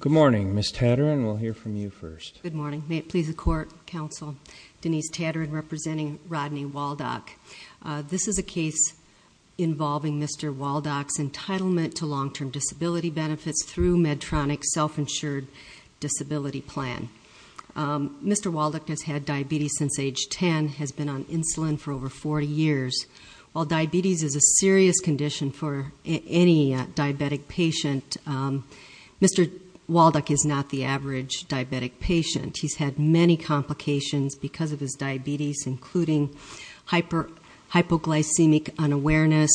Good morning, Ms. Tatarin. We'll hear from you first. Good morning. May it please the Court, Counsel Denise Tatarin representing Rodney Waldoch. This is a case involving Mr. Waldoch's entitlement to long-term disability benefits through Medtronic's self-insured disability plan. Mr. Waldoch has had diabetes since age 10, has been on insulin for over 40 years. While diabetes is a serious condition for any diabetic patient, Mr. Waldoch is not the average diabetic patient. He's had many complications because of his diabetes, including hypoglycemic unawareness,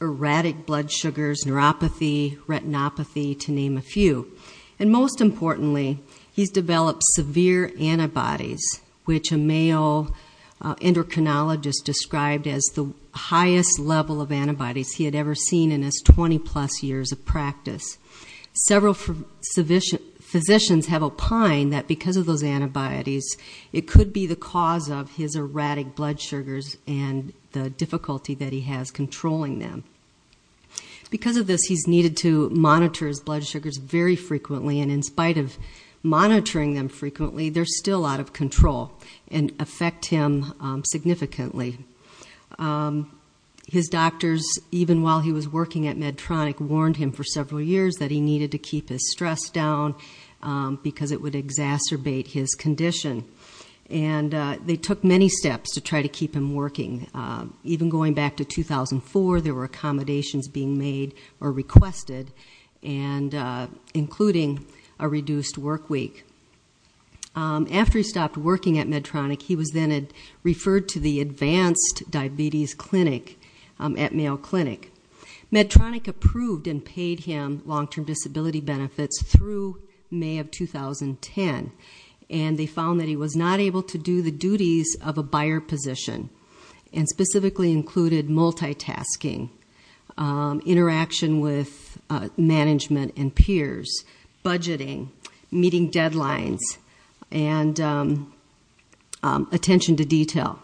erratic blood sugars, neuropathy, retinopathy, to name a few. And most importantly, he's developed severe antibodies, which a male endocrinologist described as the highest level of antibodies he had ever seen in his 20-plus years of practice. Several physicians have opined that because of those antibodies, it could be the cause of his erratic blood sugars and the difficulty that he has controlling them. Because of this, he's needed to monitor his blood sugars very frequently, and in spite of monitoring them frequently, they're still out of control and affect him significantly. His doctors, even while he was working at Medtronic, warned him for several years that he needed to keep his stress down because it would exacerbate his condition. And they took many steps to try to keep him working. Even going back to 2004, there were accommodations being made or requested, including a reduced work week. After he stopped working at Medtronic, he was then referred to the Advanced Diabetes Clinic at Mayo Clinic. Medtronic approved and paid him long-term disability benefits through May of 2010, and they found that he was not able to do the duties of a buyer position, and specifically included multitasking, interaction with management and peers, budgeting, meeting deadlines, and attention to detail.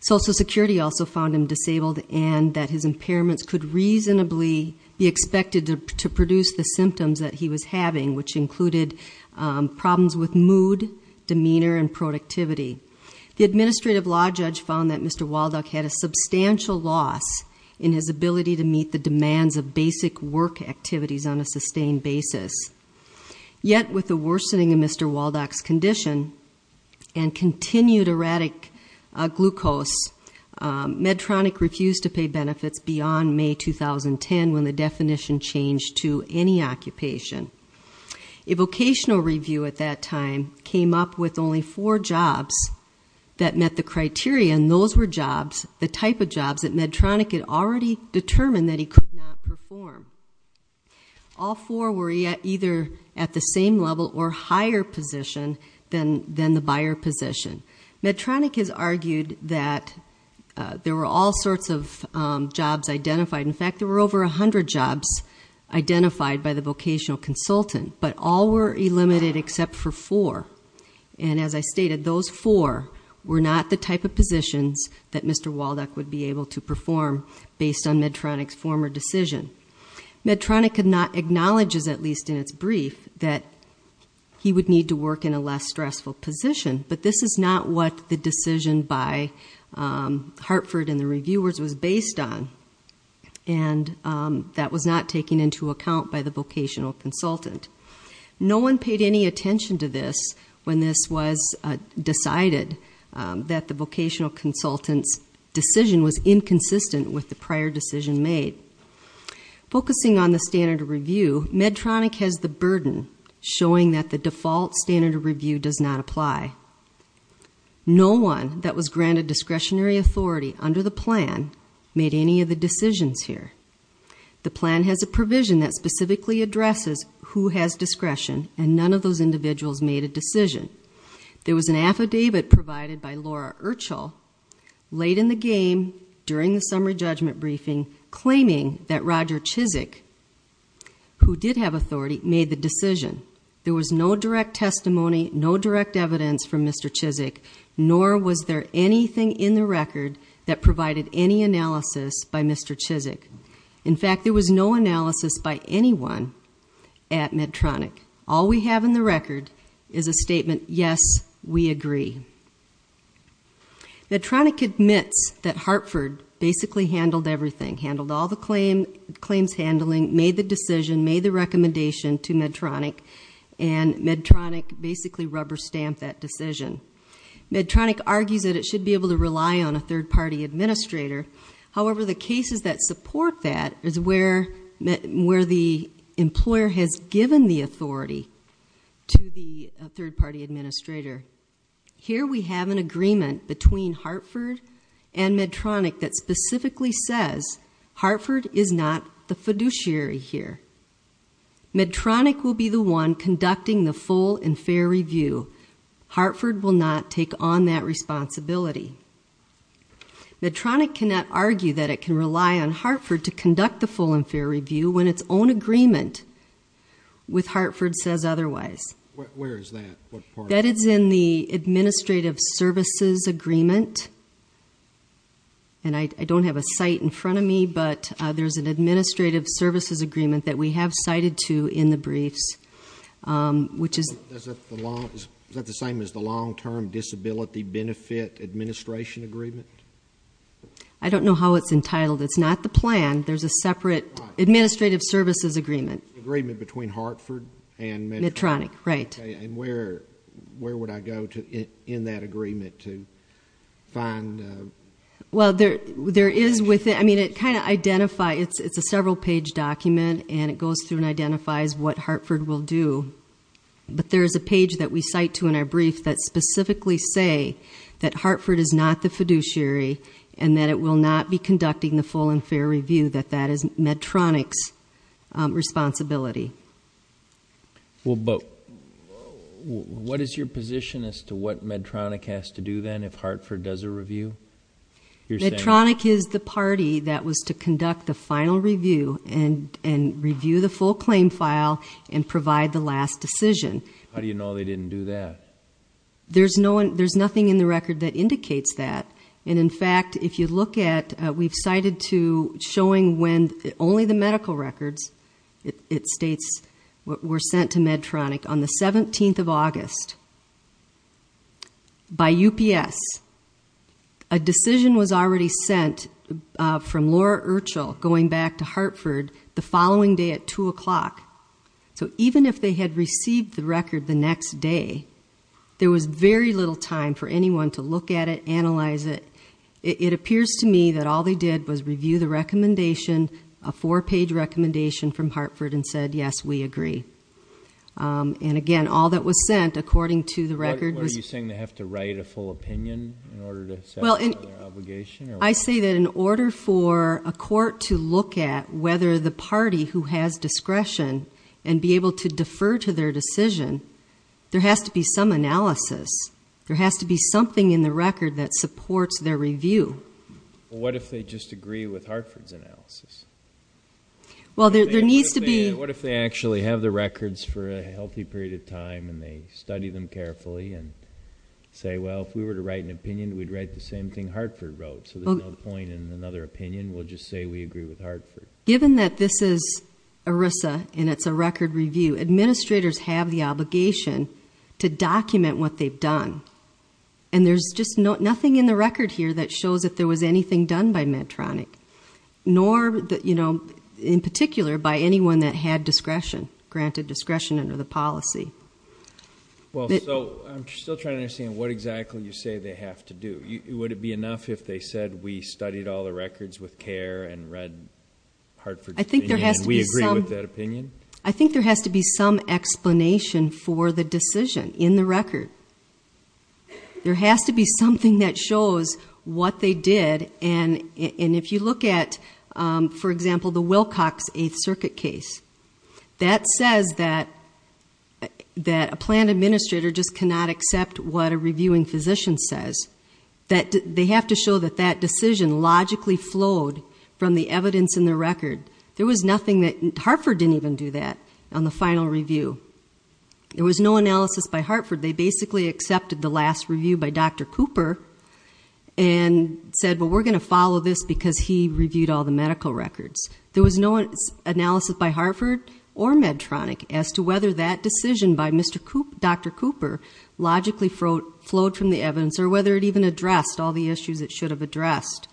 Social Security also found him disabled and that his impairments could reasonably be expected to produce the symptoms that he was having, which included problems with mood, demeanor, and productivity. The Administrative Law Judge found that Mr. Waldock had a substantial loss in his ability to meet the demands of basic work activities on a sustained basis. Yet, with the worsening of Mr. Waldock's condition and continued erratic glucose, Medtronic refused to pay benefits beyond May 2010 when the definition changed to any occupation. A vocational review at that time came up with only four jobs that met the criteria, and those were jobs, the type of jobs, that Medtronic had already determined that he could not perform. All four were either at the same level or higher position than the buyer position. Medtronic has argued that there were all sorts of jobs identified. In fact, there were over 100 jobs identified by the vocational consultant, but all were eliminated except for four. And as I stated, those four were not the type of positions that Mr. Waldock would be able to perform based on Medtronic's former decision. Medtronic acknowledges, at least in its brief, that he would need to work in a less stressful position, but this is not what the decision by Hartford and the reviewers was based on, and that was not taken into account by the vocational consultant. No one paid any attention to this when this was decided, that the vocational consultant's decision was inconsistent with the prior decision made. Focusing on the standard of review, Medtronic has the burden showing that the default standard of review does not apply. No one that was granted discretionary authority under the plan made any of the decisions here. The plan has a provision that specifically addresses who has discretion, and none of those individuals made a decision. There was an affidavit provided by Laura Urschel late in the game during the summary judgment briefing claiming that Roger Chizik, who did have authority, made the decision. There was no direct testimony, no direct evidence from Mr. Chizik, nor was there anything in the record that provided any analysis by Mr. Chizik. In fact, there was no analysis by anyone at Medtronic. All we have in the record is a statement, yes, we agree. Medtronic admits that Hartford basically handled everything, handled all the claims handling, made the decision, made the recommendation to Medtronic, and Medtronic basically rubber-stamped that decision. Medtronic argues that it should be able to rely on a third-party administrator. However, the cases that support that is where the employer has given the authority to the third-party administrator. Here we have an agreement between Hartford and Medtronic that specifically says Hartford is not the fiduciary here. Medtronic will be the one conducting the full and fair review. Hartford will not take on that responsibility. Medtronic cannot argue that it can rely on Hartford to conduct the full and fair review when its own agreement with Hartford says otherwise. Where is that? That is in the administrative services agreement, and I don't have a site in front of me, but there's an administrative services agreement that we have cited to in the briefs, which is- Is that the same as the long-term disability benefit administration agreement? I don't know how it's entitled. It's not the plan. There's a separate administrative services agreement. Agreement between Hartford and Medtronic. Medtronic, right. And where would I go in that agreement to find- Well, there is within-I mean, it kind of identifies-it's a several-page document, and it goes through and identifies what Hartford will do, but there is a page that we cite to in our brief that specifically say that Hartford is not the fiduciary and that it will not be conducting the full and fair review, that that is Medtronic's responsibility. Well, but what is your position as to what Medtronic has to do then if Hartford does a review? Medtronic is the party that was to conduct the final review and review the full claim file and provide the last decision. How do you know they didn't do that? There's nothing in the record that indicates that, and, in fact, if you look at-we've cited to showing when only the medical records, it states, were sent to Medtronic on the 17th of August by UPS. A decision was already sent from Laura Urschel going back to Hartford the following day at 2 o'clock. So even if they had received the record the next day, there was very little time for anyone to look at it, analyze it. It appears to me that all they did was review the recommendation, a four-page recommendation from Hartford, and said, yes, we agree. And, again, all that was sent according to the record was- What are you saying, they have to write a full opinion in order to satisfy their obligation? I say that in order for a court to look at whether the party who has discretion and be able to defer to their decision, there has to be some analysis. There has to be something in the record that supports their review. Well, what if they just agree with Hartford's analysis? Well, there needs to be- What if they actually have the records for a healthy period of time and they study them carefully and say, well, if we were to write an opinion, we'd write the same thing Hartford wrote, so there's no point in another opinion. We'll just say we agree with Hartford. Given that this is ERISA and it's a record review, administrators have the obligation to document what they've done. And there's just nothing in the record here that shows that there was anything done by Medtronic, nor in particular by anyone that had discretion, granted discretion under the policy. Well, so I'm still trying to understand what exactly you say they have to do. Would it be enough if they said we studied all the records with care and read Hartford's opinion and we agree with that opinion? I think there has to be some explanation for the decision in the record. There has to be something that shows what they did. And if you look at, for example, the Wilcox Eighth Circuit case, that says that a plan administrator just cannot accept what a reviewing physician says. They have to show that that decision logically flowed from the evidence in the record. Hartford didn't even do that on the final review. There was no analysis by Hartford. They basically accepted the last review by Dr. Cooper and said, well, we're going to follow this because he reviewed all the medical records. There was no analysis by Hartford or Medtronic as to whether that decision by Dr. Cooper logically flowed from the evidence or whether it even addressed all the issues it should have addressed.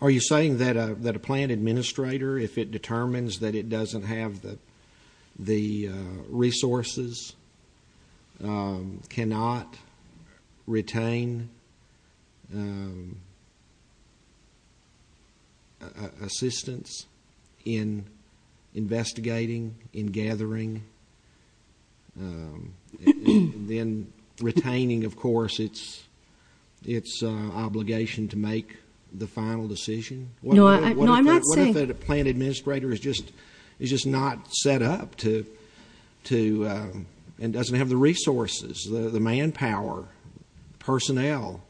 Are you saying that a plan administrator, if it determines that it doesn't have the resources, cannot retain assistance in investigating, in gathering, then retaining, of course, its obligation to make the final decision? No, I'm not saying that. What if a plan administrator is just not set up to and doesn't have the resources, the manpower, personnel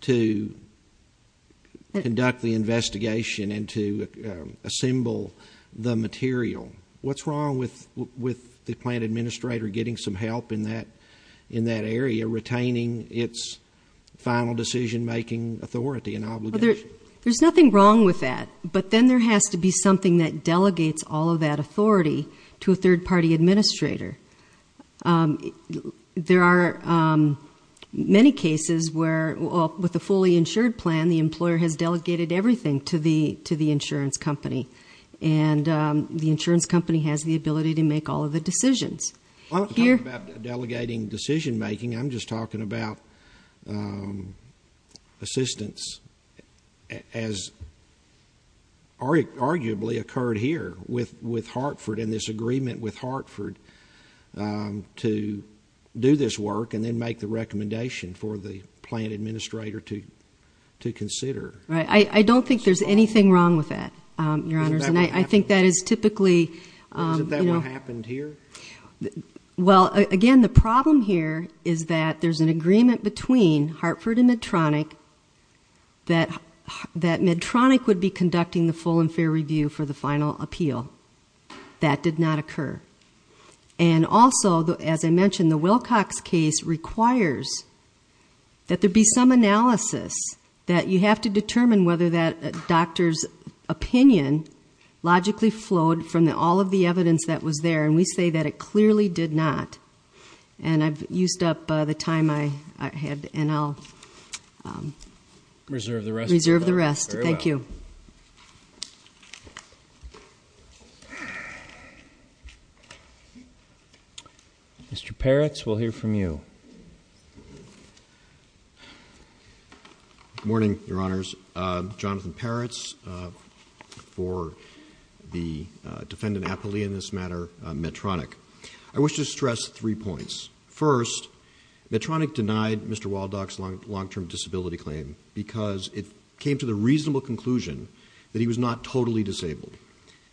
to conduct the investigation and to assemble the material? What's wrong with the plan administrator getting some help in that area, retaining its final decision-making authority and obligation? There's nothing wrong with that, but then there has to be something that delegates all of that authority to a third-party administrator. There are many cases where, with a fully insured plan, the employer has delegated everything to the insurance company, and the insurance company has the ability to make all of the decisions. I'm not talking about delegating decision-making. I'm just talking about assistance as arguably occurred here with Hartford and this agreement with Hartford to do this work and then make the recommendation for the plan administrator to consider. I don't think there's anything wrong with that, Your Honors. Isn't that what happened here? Again, the problem here is that there's an agreement between Hartford and Medtronic that Medtronic would be conducting the full and fair review for the final appeal. That did not occur. Also, as I mentioned, the Wilcox case requires that there be some analysis that you have to determine whether that doctor's opinion logically flowed from all of the evidence that was there, and we say that it clearly did not. I've used up the time I had, and I'll reserve the rest. Thank you. Mr. Peretz, we'll hear from you. Good morning, Your Honors. Jonathan Peretz for the defendant appellee in this matter, Medtronic. I wish to stress three points. First, Medtronic denied Mr. Waldock's long-term disability claim because it came to the reasonable conclusion that he was not totally disabled,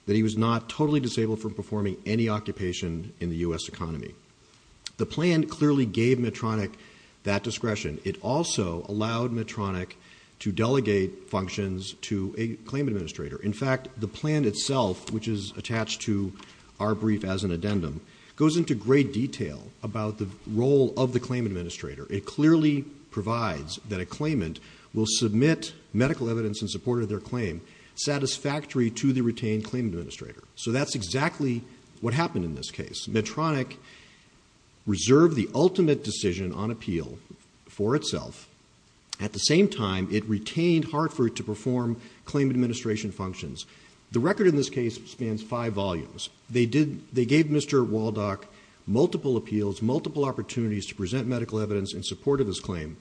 that he was not totally disabled from performing any occupation in the U.S. economy. The plan clearly gave Medtronic that discretion. It also allowed Medtronic to delegate functions to a claim administrator. In fact, the plan itself, which is attached to our brief as an addendum, goes into great detail about the role of the claim administrator. It clearly provides that a claimant will submit medical evidence in support of their claim, satisfactory to the retained claim administrator. So that's exactly what happened in this case. Medtronic reserved the ultimate decision on appeal for itself. At the same time, it retained Hartford to perform claim administration functions. The record in this case spans five volumes. They gave Mr. Waldock multiple appeals, multiple opportunities to present medical evidence in support of his claim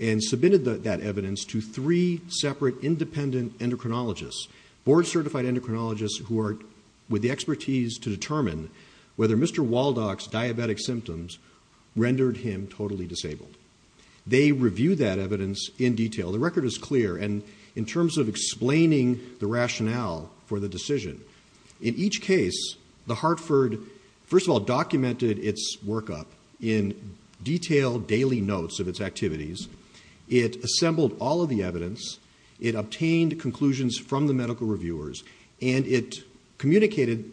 and submitted that evidence to three separate independent endocrinologists, board-certified endocrinologists who are with the expertise to determine whether Mr. Waldock's diabetic symptoms rendered him totally disabled. They reviewed that evidence in detail. The record is clear. And in terms of explaining the rationale for the decision, in each case, the Hartford, first of all, documented its workup in detailed daily notes of its activities. It assembled all of the evidence. It obtained conclusions from the medical reviewers, and it communicated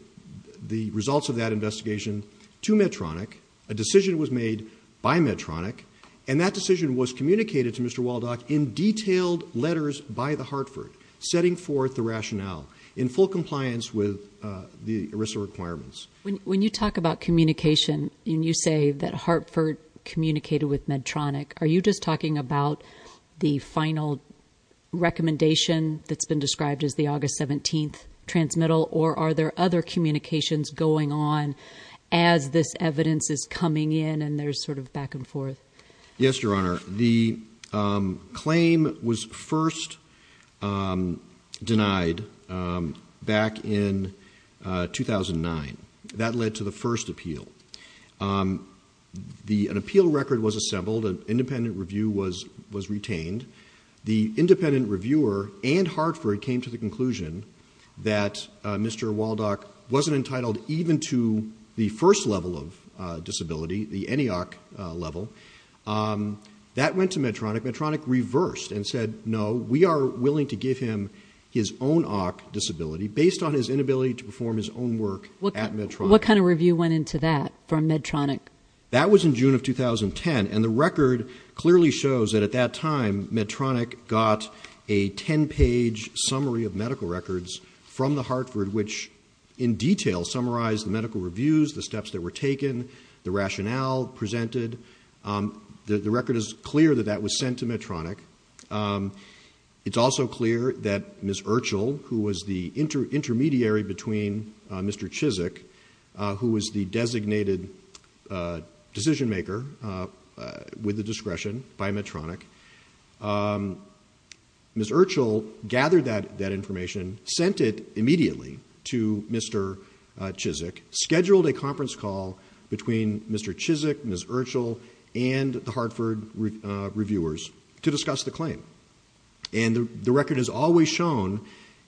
the results of that investigation to Medtronic. A decision was made by Medtronic, and that decision was communicated to Mr. Waldock in detailed letters by the Hartford, setting forth the rationale in full compliance with the ERISA requirements. When you talk about communication and you say that Hartford communicated with Medtronic, are you just talking about the final recommendation that's been described as the August 17th transmittal, or are there other communications going on as this evidence is coming in and there's sort of back and forth? Yes, Your Honor. The claim was first denied back in 2009. That led to the first appeal. An appeal record was assembled. An independent review was retained. The independent reviewer and Hartford came to the conclusion that Mr. Waldock wasn't entitled even to the first level of disability, the ENEOC level. That went to Medtronic. Medtronic reversed and said, no, we are willing to give him his own OCK disability based on his inability to perform his own work at Medtronic. What kind of review went into that from Medtronic? That was in June of 2010, and the record clearly shows that at that time Medtronic got a 10-page summary of medical records from the Hartford, which in detail summarized the medical reviews, the steps that were taken, the rationale presented. The record is clear that that was sent to Medtronic. It's also clear that Ms. Urschel, who was the intermediary between Mr. Chizik, who was the designated decision-maker with the discretion by Medtronic, Ms. Urschel gathered that information, sent it immediately to Mr. Chizik, scheduled a conference call between Mr. Chizik, Ms. Urschel, and the Hartford reviewers to discuss the claim. And the record has always shown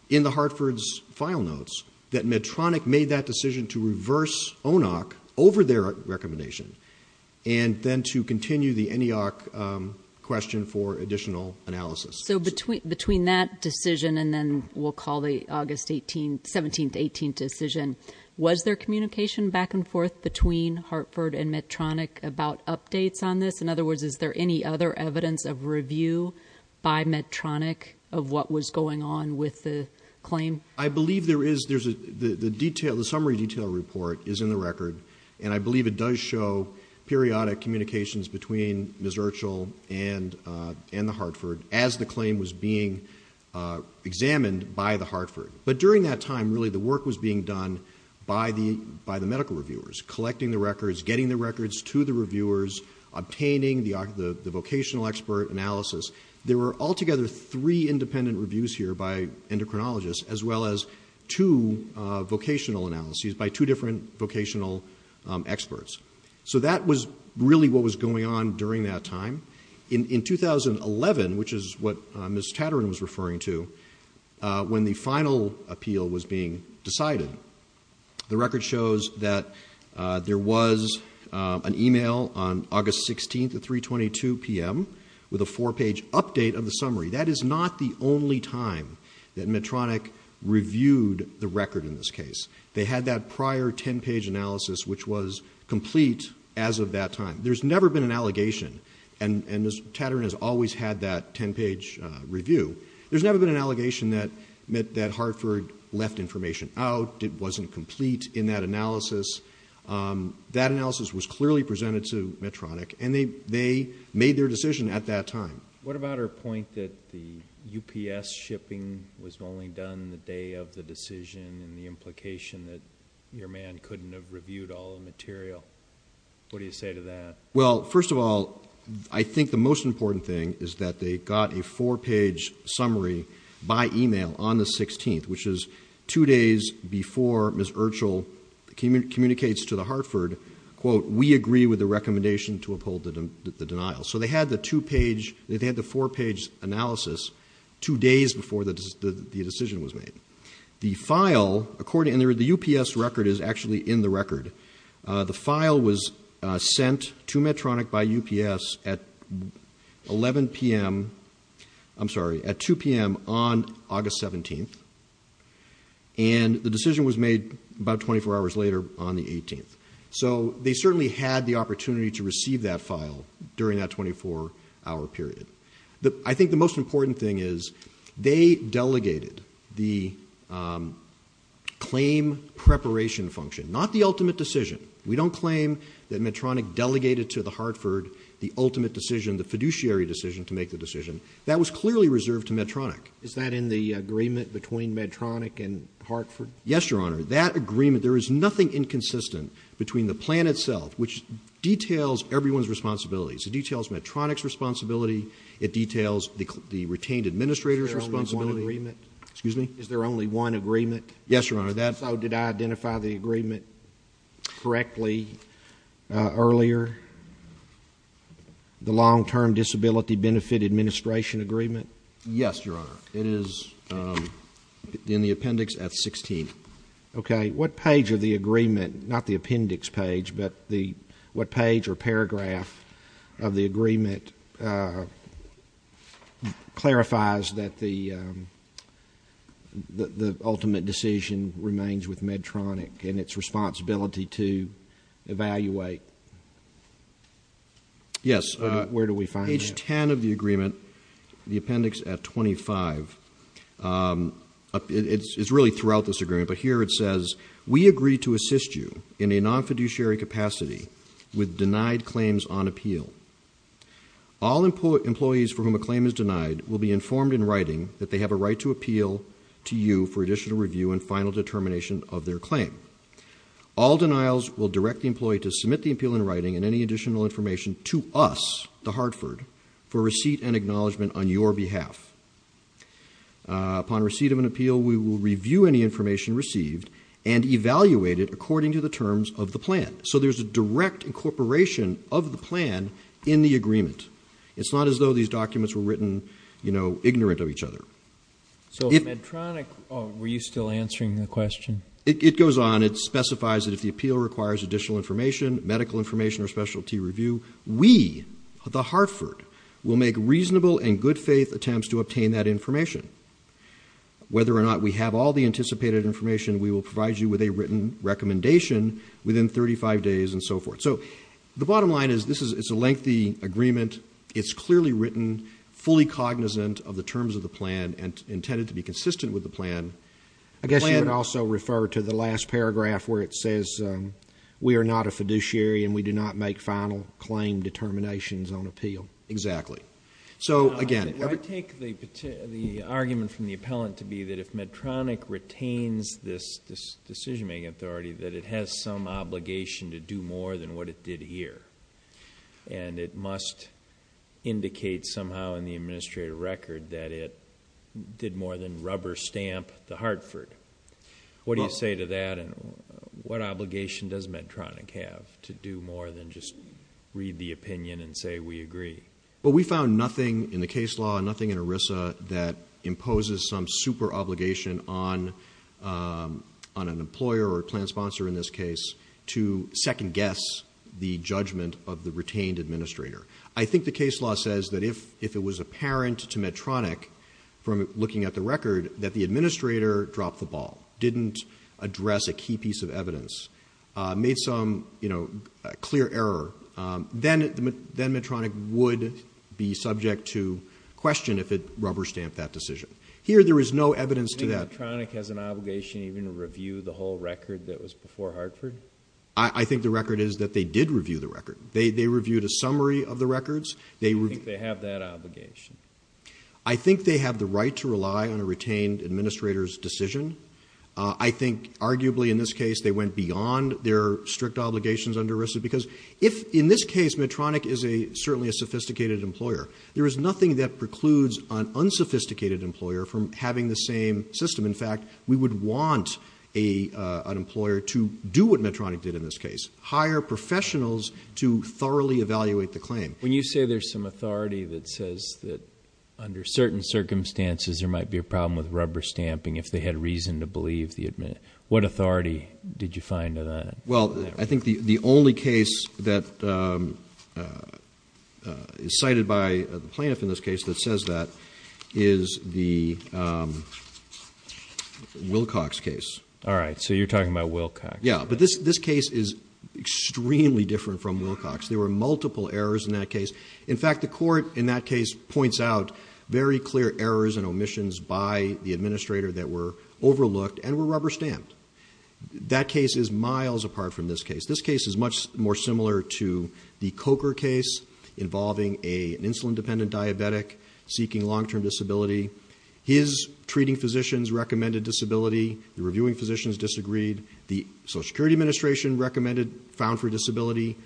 in the Hartford's file notes that Medtronic made that decision to reverse ONOC over their recommendation and then to continue the NEOC question for additional analysis. So between that decision and then we'll call the August 17-18 decision, was there communication back and forth between Hartford and Medtronic about updates on this? In other words, is there any other evidence of review by Medtronic of what was going on with the claim? I believe there is. The summary detail report is in the record, and I believe it does show periodic communications between Ms. Urschel and the Hartford as the claim was being examined by the Hartford. But during that time, really, the work was being done by the medical reviewers, collecting the records, getting the records to the reviewers, obtaining the vocational expert analysis. There were altogether three independent reviews here by endocrinologists, as well as two vocational analyses by two different vocational experts. So that was really what was going on during that time. In 2011, which is what Ms. Tatarin was referring to, when the final appeal was being decided, the record shows that there was an e-mail on August 16th at 3.22 p.m. with a four-page update of the summary. That is not the only time that Medtronic reviewed the record in this case. They had that prior ten-page analysis, which was complete as of that time. There's never been an allegation, and Ms. Tatarin has always had that ten-page review. There's never been an allegation that Hartford left information out, it wasn't complete in that analysis. That analysis was clearly presented to Medtronic, and they made their decision at that time. What about her point that the UPS shipping was only done the day of the decision and the implication that your man couldn't have reviewed all the material? What do you say to that? Well, first of all, I think the most important thing is that they got a four-page summary by e-mail on the 16th, which is two days before Ms. Urschel communicates to Hartford, quote, we agree with the recommendation to uphold the denial. So they had the four-page analysis two days before the decision was made. The file, according to the UPS record, is actually in the record. The file was sent to Medtronic by UPS at 11 p.m. I'm sorry, at 2 p.m. on August 17th, and the decision was made about 24 hours later on the 18th. So they certainly had the opportunity to receive that file during that 24-hour period. I think the most important thing is they delegated the claim preparation function, not the ultimate decision. We don't claim that Medtronic delegated to Hartford the ultimate decision, the fiduciary decision to make the decision. That was clearly reserved to Medtronic. Is that in the agreement between Medtronic and Hartford? Yes, Your Honor. That agreement, there is nothing inconsistent between the plan itself, which details everyone's responsibilities. It details Medtronic's responsibility. It details the retained administrator's responsibility. Excuse me? Is there only one agreement? Yes, Your Honor. So did I identify the agreement correctly earlier, the long-term disability benefit administration agreement? Yes, Your Honor. It is in the appendix at 16. Okay. What page of the agreement, not the appendix page, but what page or paragraph of the agreement clarifies that the ultimate decision remains with Medtronic and its responsibility to evaluate? Yes. Where do we find that? Page 10 of the agreement, the appendix at 25. It's really throughout this agreement. But here it says, We agree to assist you in a non-fiduciary capacity with denied claims on appeal. All employees for whom a claim is denied will be informed in writing that they have a right to appeal to you for additional review and final determination of their claim. All denials will direct the employee to submit the appeal in writing and any additional information to us, the Hartford, for receipt and acknowledgement on your behalf. Upon receipt of an appeal, we will review any information received and evaluate it according to the terms of the plan. So there's a direct incorporation of the plan in the agreement. It's not as though these documents were written, you know, ignorant of each other. So Medtronic, were you still answering the question? It goes on. It specifies that if the appeal requires additional information, medical information, or specialty review, we, the Hartford, will make reasonable and good faith attempts to obtain that information. Whether or not we have all the anticipated information, we will provide you with a written recommendation within 35 days and so forth. So the bottom line is this is a lengthy agreement. It's clearly written, fully cognizant of the terms of the plan, and intended to be consistent with the plan. I guess you would also refer to the last paragraph where it says we are not a fiduciary and we do not make final claim determinations on appeal. Exactly. So, again. I take the argument from the appellant to be that if Medtronic retains this decision-making authority, that it has some obligation to do more than what it did here. And it must indicate somehow in the administrative record that it did more than rubber stamp the Hartford. What do you say to that? And what obligation does Medtronic have to do more than just read the opinion and say we agree? Well, we found nothing in the case law, nothing in ERISA, that imposes some super-obligation on an employer or plan sponsor in this case to second-guess the judgment of the retained administrator. I think the case law says that if it was apparent to Medtronic from looking at the record that the administrator dropped the ball, didn't address a key piece of evidence, made some clear error, then Medtronic would be subject to question if it rubber stamped that decision. Here there is no evidence to that. Do you think Medtronic has an obligation even to review the whole record that was before Hartford? I think the record is that they did review the record. They reviewed a summary of the records. Do you think they have that obligation? I think they have the right to rely on a retained administrator's decision. I think arguably in this case they went beyond their strict obligations under ERISA because if in this case Medtronic is certainly a sophisticated employer, there is nothing that precludes an unsophisticated employer from having the same system. In fact, we would want an employer to do what Medtronic did in this case, hire professionals to thoroughly evaluate the claim. When you say there is some authority that says that under certain circumstances there might be a problem with rubber stamping, if they had reason to believe the administrator, what authority did you find in that? Well, I think the only case that is cited by the plaintiff in this case that says that is the Wilcox case. All right. So you're talking about Wilcox. Yeah. But this case is extremely different from Wilcox. There were multiple errors in that case. In fact, the court in that case points out very clear errors and omissions by the administrator that were overlooked and were rubber stamped. That case is miles apart from this case. This case is much more similar to the Coker case involving an insulin-dependent diabetic seeking long-term disability. His treating physicians recommended disability. The reviewing physicians disagreed. The Social Security Administration recommended found for disability.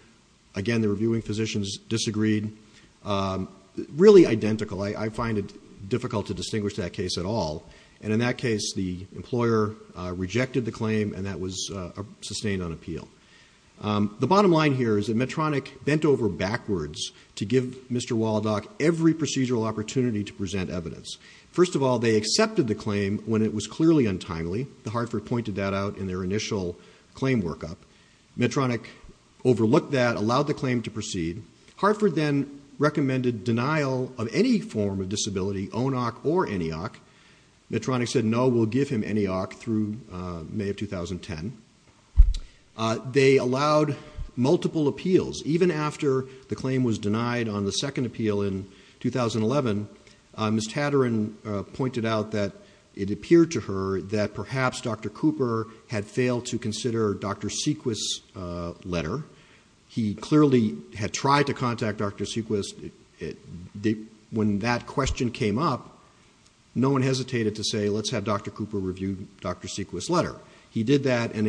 Again, the reviewing physicians disagreed. Really identical. I find it difficult to distinguish that case at all. And in that case, the employer rejected the claim, and that was sustained on appeal. The bottom line here is that Medtronic bent over backwards to give Mr. Waldock every procedural opportunity to present evidence. First of all, they accepted the claim when it was clearly untimely. The Hartford pointed that out in their initial claim workup. Medtronic overlooked that, allowed the claim to proceed. Hartford then recommended denial of any form of disability, ONOC or ENEOC. Medtronic said, no, we'll give him ENEOC through May of 2010. They allowed multiple appeals. Even after the claim was denied on the second appeal in 2011, Ms. Tatarin pointed out that it appeared to her that perhaps Dr. Cooper had failed to consider Dr. Sequist's letter. He clearly had tried to contact Dr. Sequist. When that question came up, no one hesitated to say, let's have Dr. Cooper review Dr. Sequist's letter. He did that, and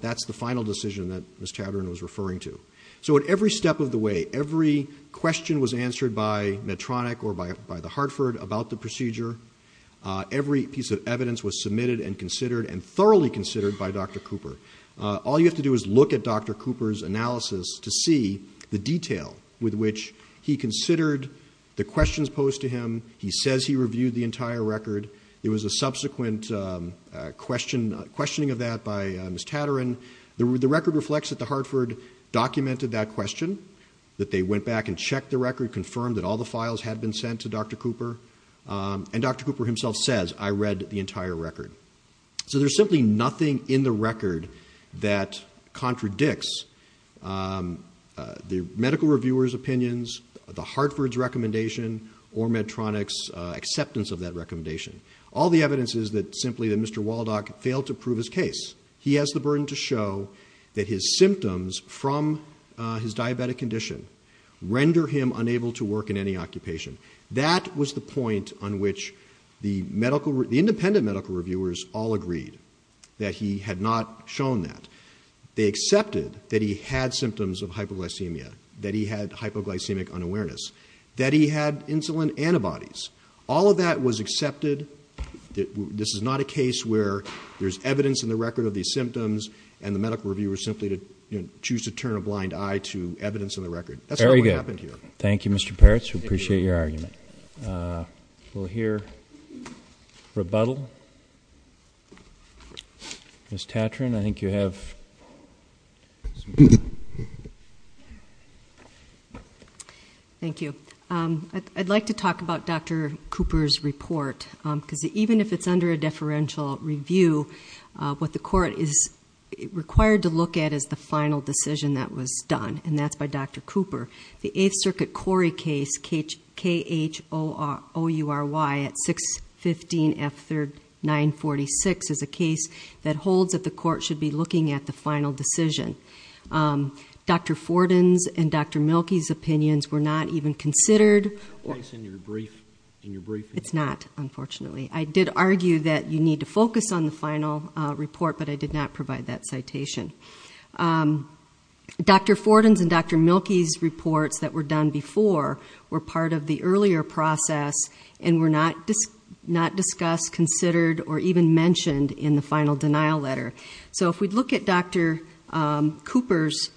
that's the final decision that Ms. Tatarin was referring to. So at every step of the way, every question was answered by Medtronic or by the Hartford about the procedure. Every piece of evidence was submitted and considered and thoroughly considered by Dr. Cooper. All you have to do is look at Dr. Cooper's analysis to see the detail with which he considered the questions posed to him. He says he reviewed the entire record. There was a subsequent questioning of that by Ms. Tatarin. The record reflects that the Hartford documented that question, that they went back and checked the record, confirmed that all the files had been sent to Dr. Cooper. And Dr. Cooper himself says, I read the entire record. So there's simply nothing in the record that contradicts the medical reviewer's opinions, the Hartford's recommendation, or Medtronic's acceptance of that recommendation. All the evidence is simply that Mr. Waldock failed to prove his case. He has the burden to show that his symptoms from his diabetic condition render him unable to work in any occupation. That was the point on which the independent medical reviewers all agreed that he had not shown that. They accepted that he had symptoms of hypoglycemia, that he had hypoglycemic unawareness, that he had insulin antibodies. All of that was accepted. This is not a case where there's evidence in the record of these symptoms and the medical reviewers simply choose to turn a blind eye to evidence in the record. That's not what happened here. Thank you, Mr. Peretz. We appreciate your argument. We'll hear rebuttal. Ms. Tatron, I think you have some time. Thank you. I'd like to talk about Dr. Cooper's report, because even if it's under a deferential review, what the court is required to look at is the final decision that was done, and that's by Dr. Cooper. The Eighth Circuit Corey case, K-H-O-U-R-Y at 615F3946, is a case that holds that the court should be looking at the final decision. Dr. Forden's and Dr. Mielke's opinions were not even considered. Is that the case in your briefing? It's not, unfortunately. I did argue that you need to focus on the final report, but I did not provide that citation. Dr. Forden's and Dr. Mielke's reports that were done before were part of the earlier process and were not discussed, considered, or even mentioned in the final denial letter. So if we look at Dr. Cooper's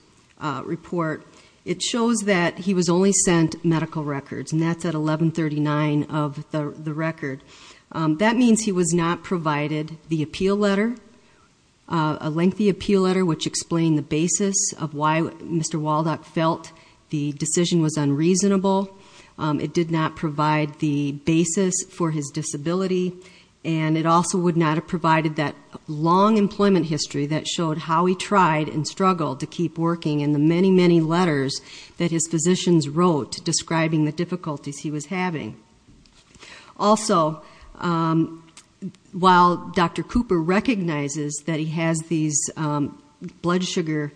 report, it shows that he was only sent medical records, and that's at 1139 of the record. That means he was not provided the appeal letter, a lengthy appeal letter, which explained the basis of why Mr. Waldock felt the decision was unreasonable. It did not provide the basis for his disability, and it also would not have provided that long employment history that showed how he tried and struggled to keep working and the many, many letters that his physicians wrote describing the difficulties he was having. Also, while Dr. Cooper recognizes that he has these blood sugars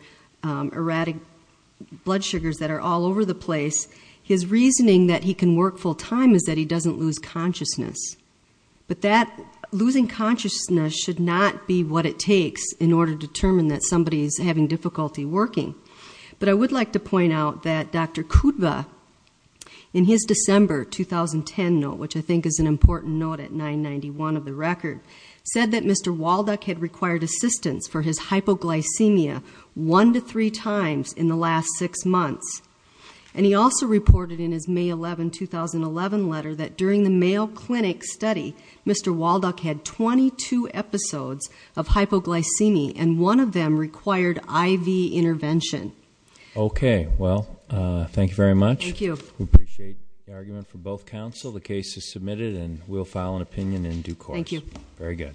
that are all over the place, his reasoning that he can work full-time is that he doesn't lose consciousness. But losing consciousness should not be what it takes in order to determine that somebody is having difficulty working. But I would like to point out that Dr. Kudwa, in his December 2010 note, which I think is an important note at 991 of the record, said that Mr. Waldock had required assistance for his hypoglycemia one to three times in the last six months. And he also reported in his May 11, 2011 letter that during the Mayo Clinic study, Mr. Waldock had 22 episodes of hypoglycemia, and one of them required IV intervention. Okay. Well, thank you very much. Thank you. We appreciate the argument from both counsel. The case is submitted and we'll file an opinion in due course. Thank you. Very good.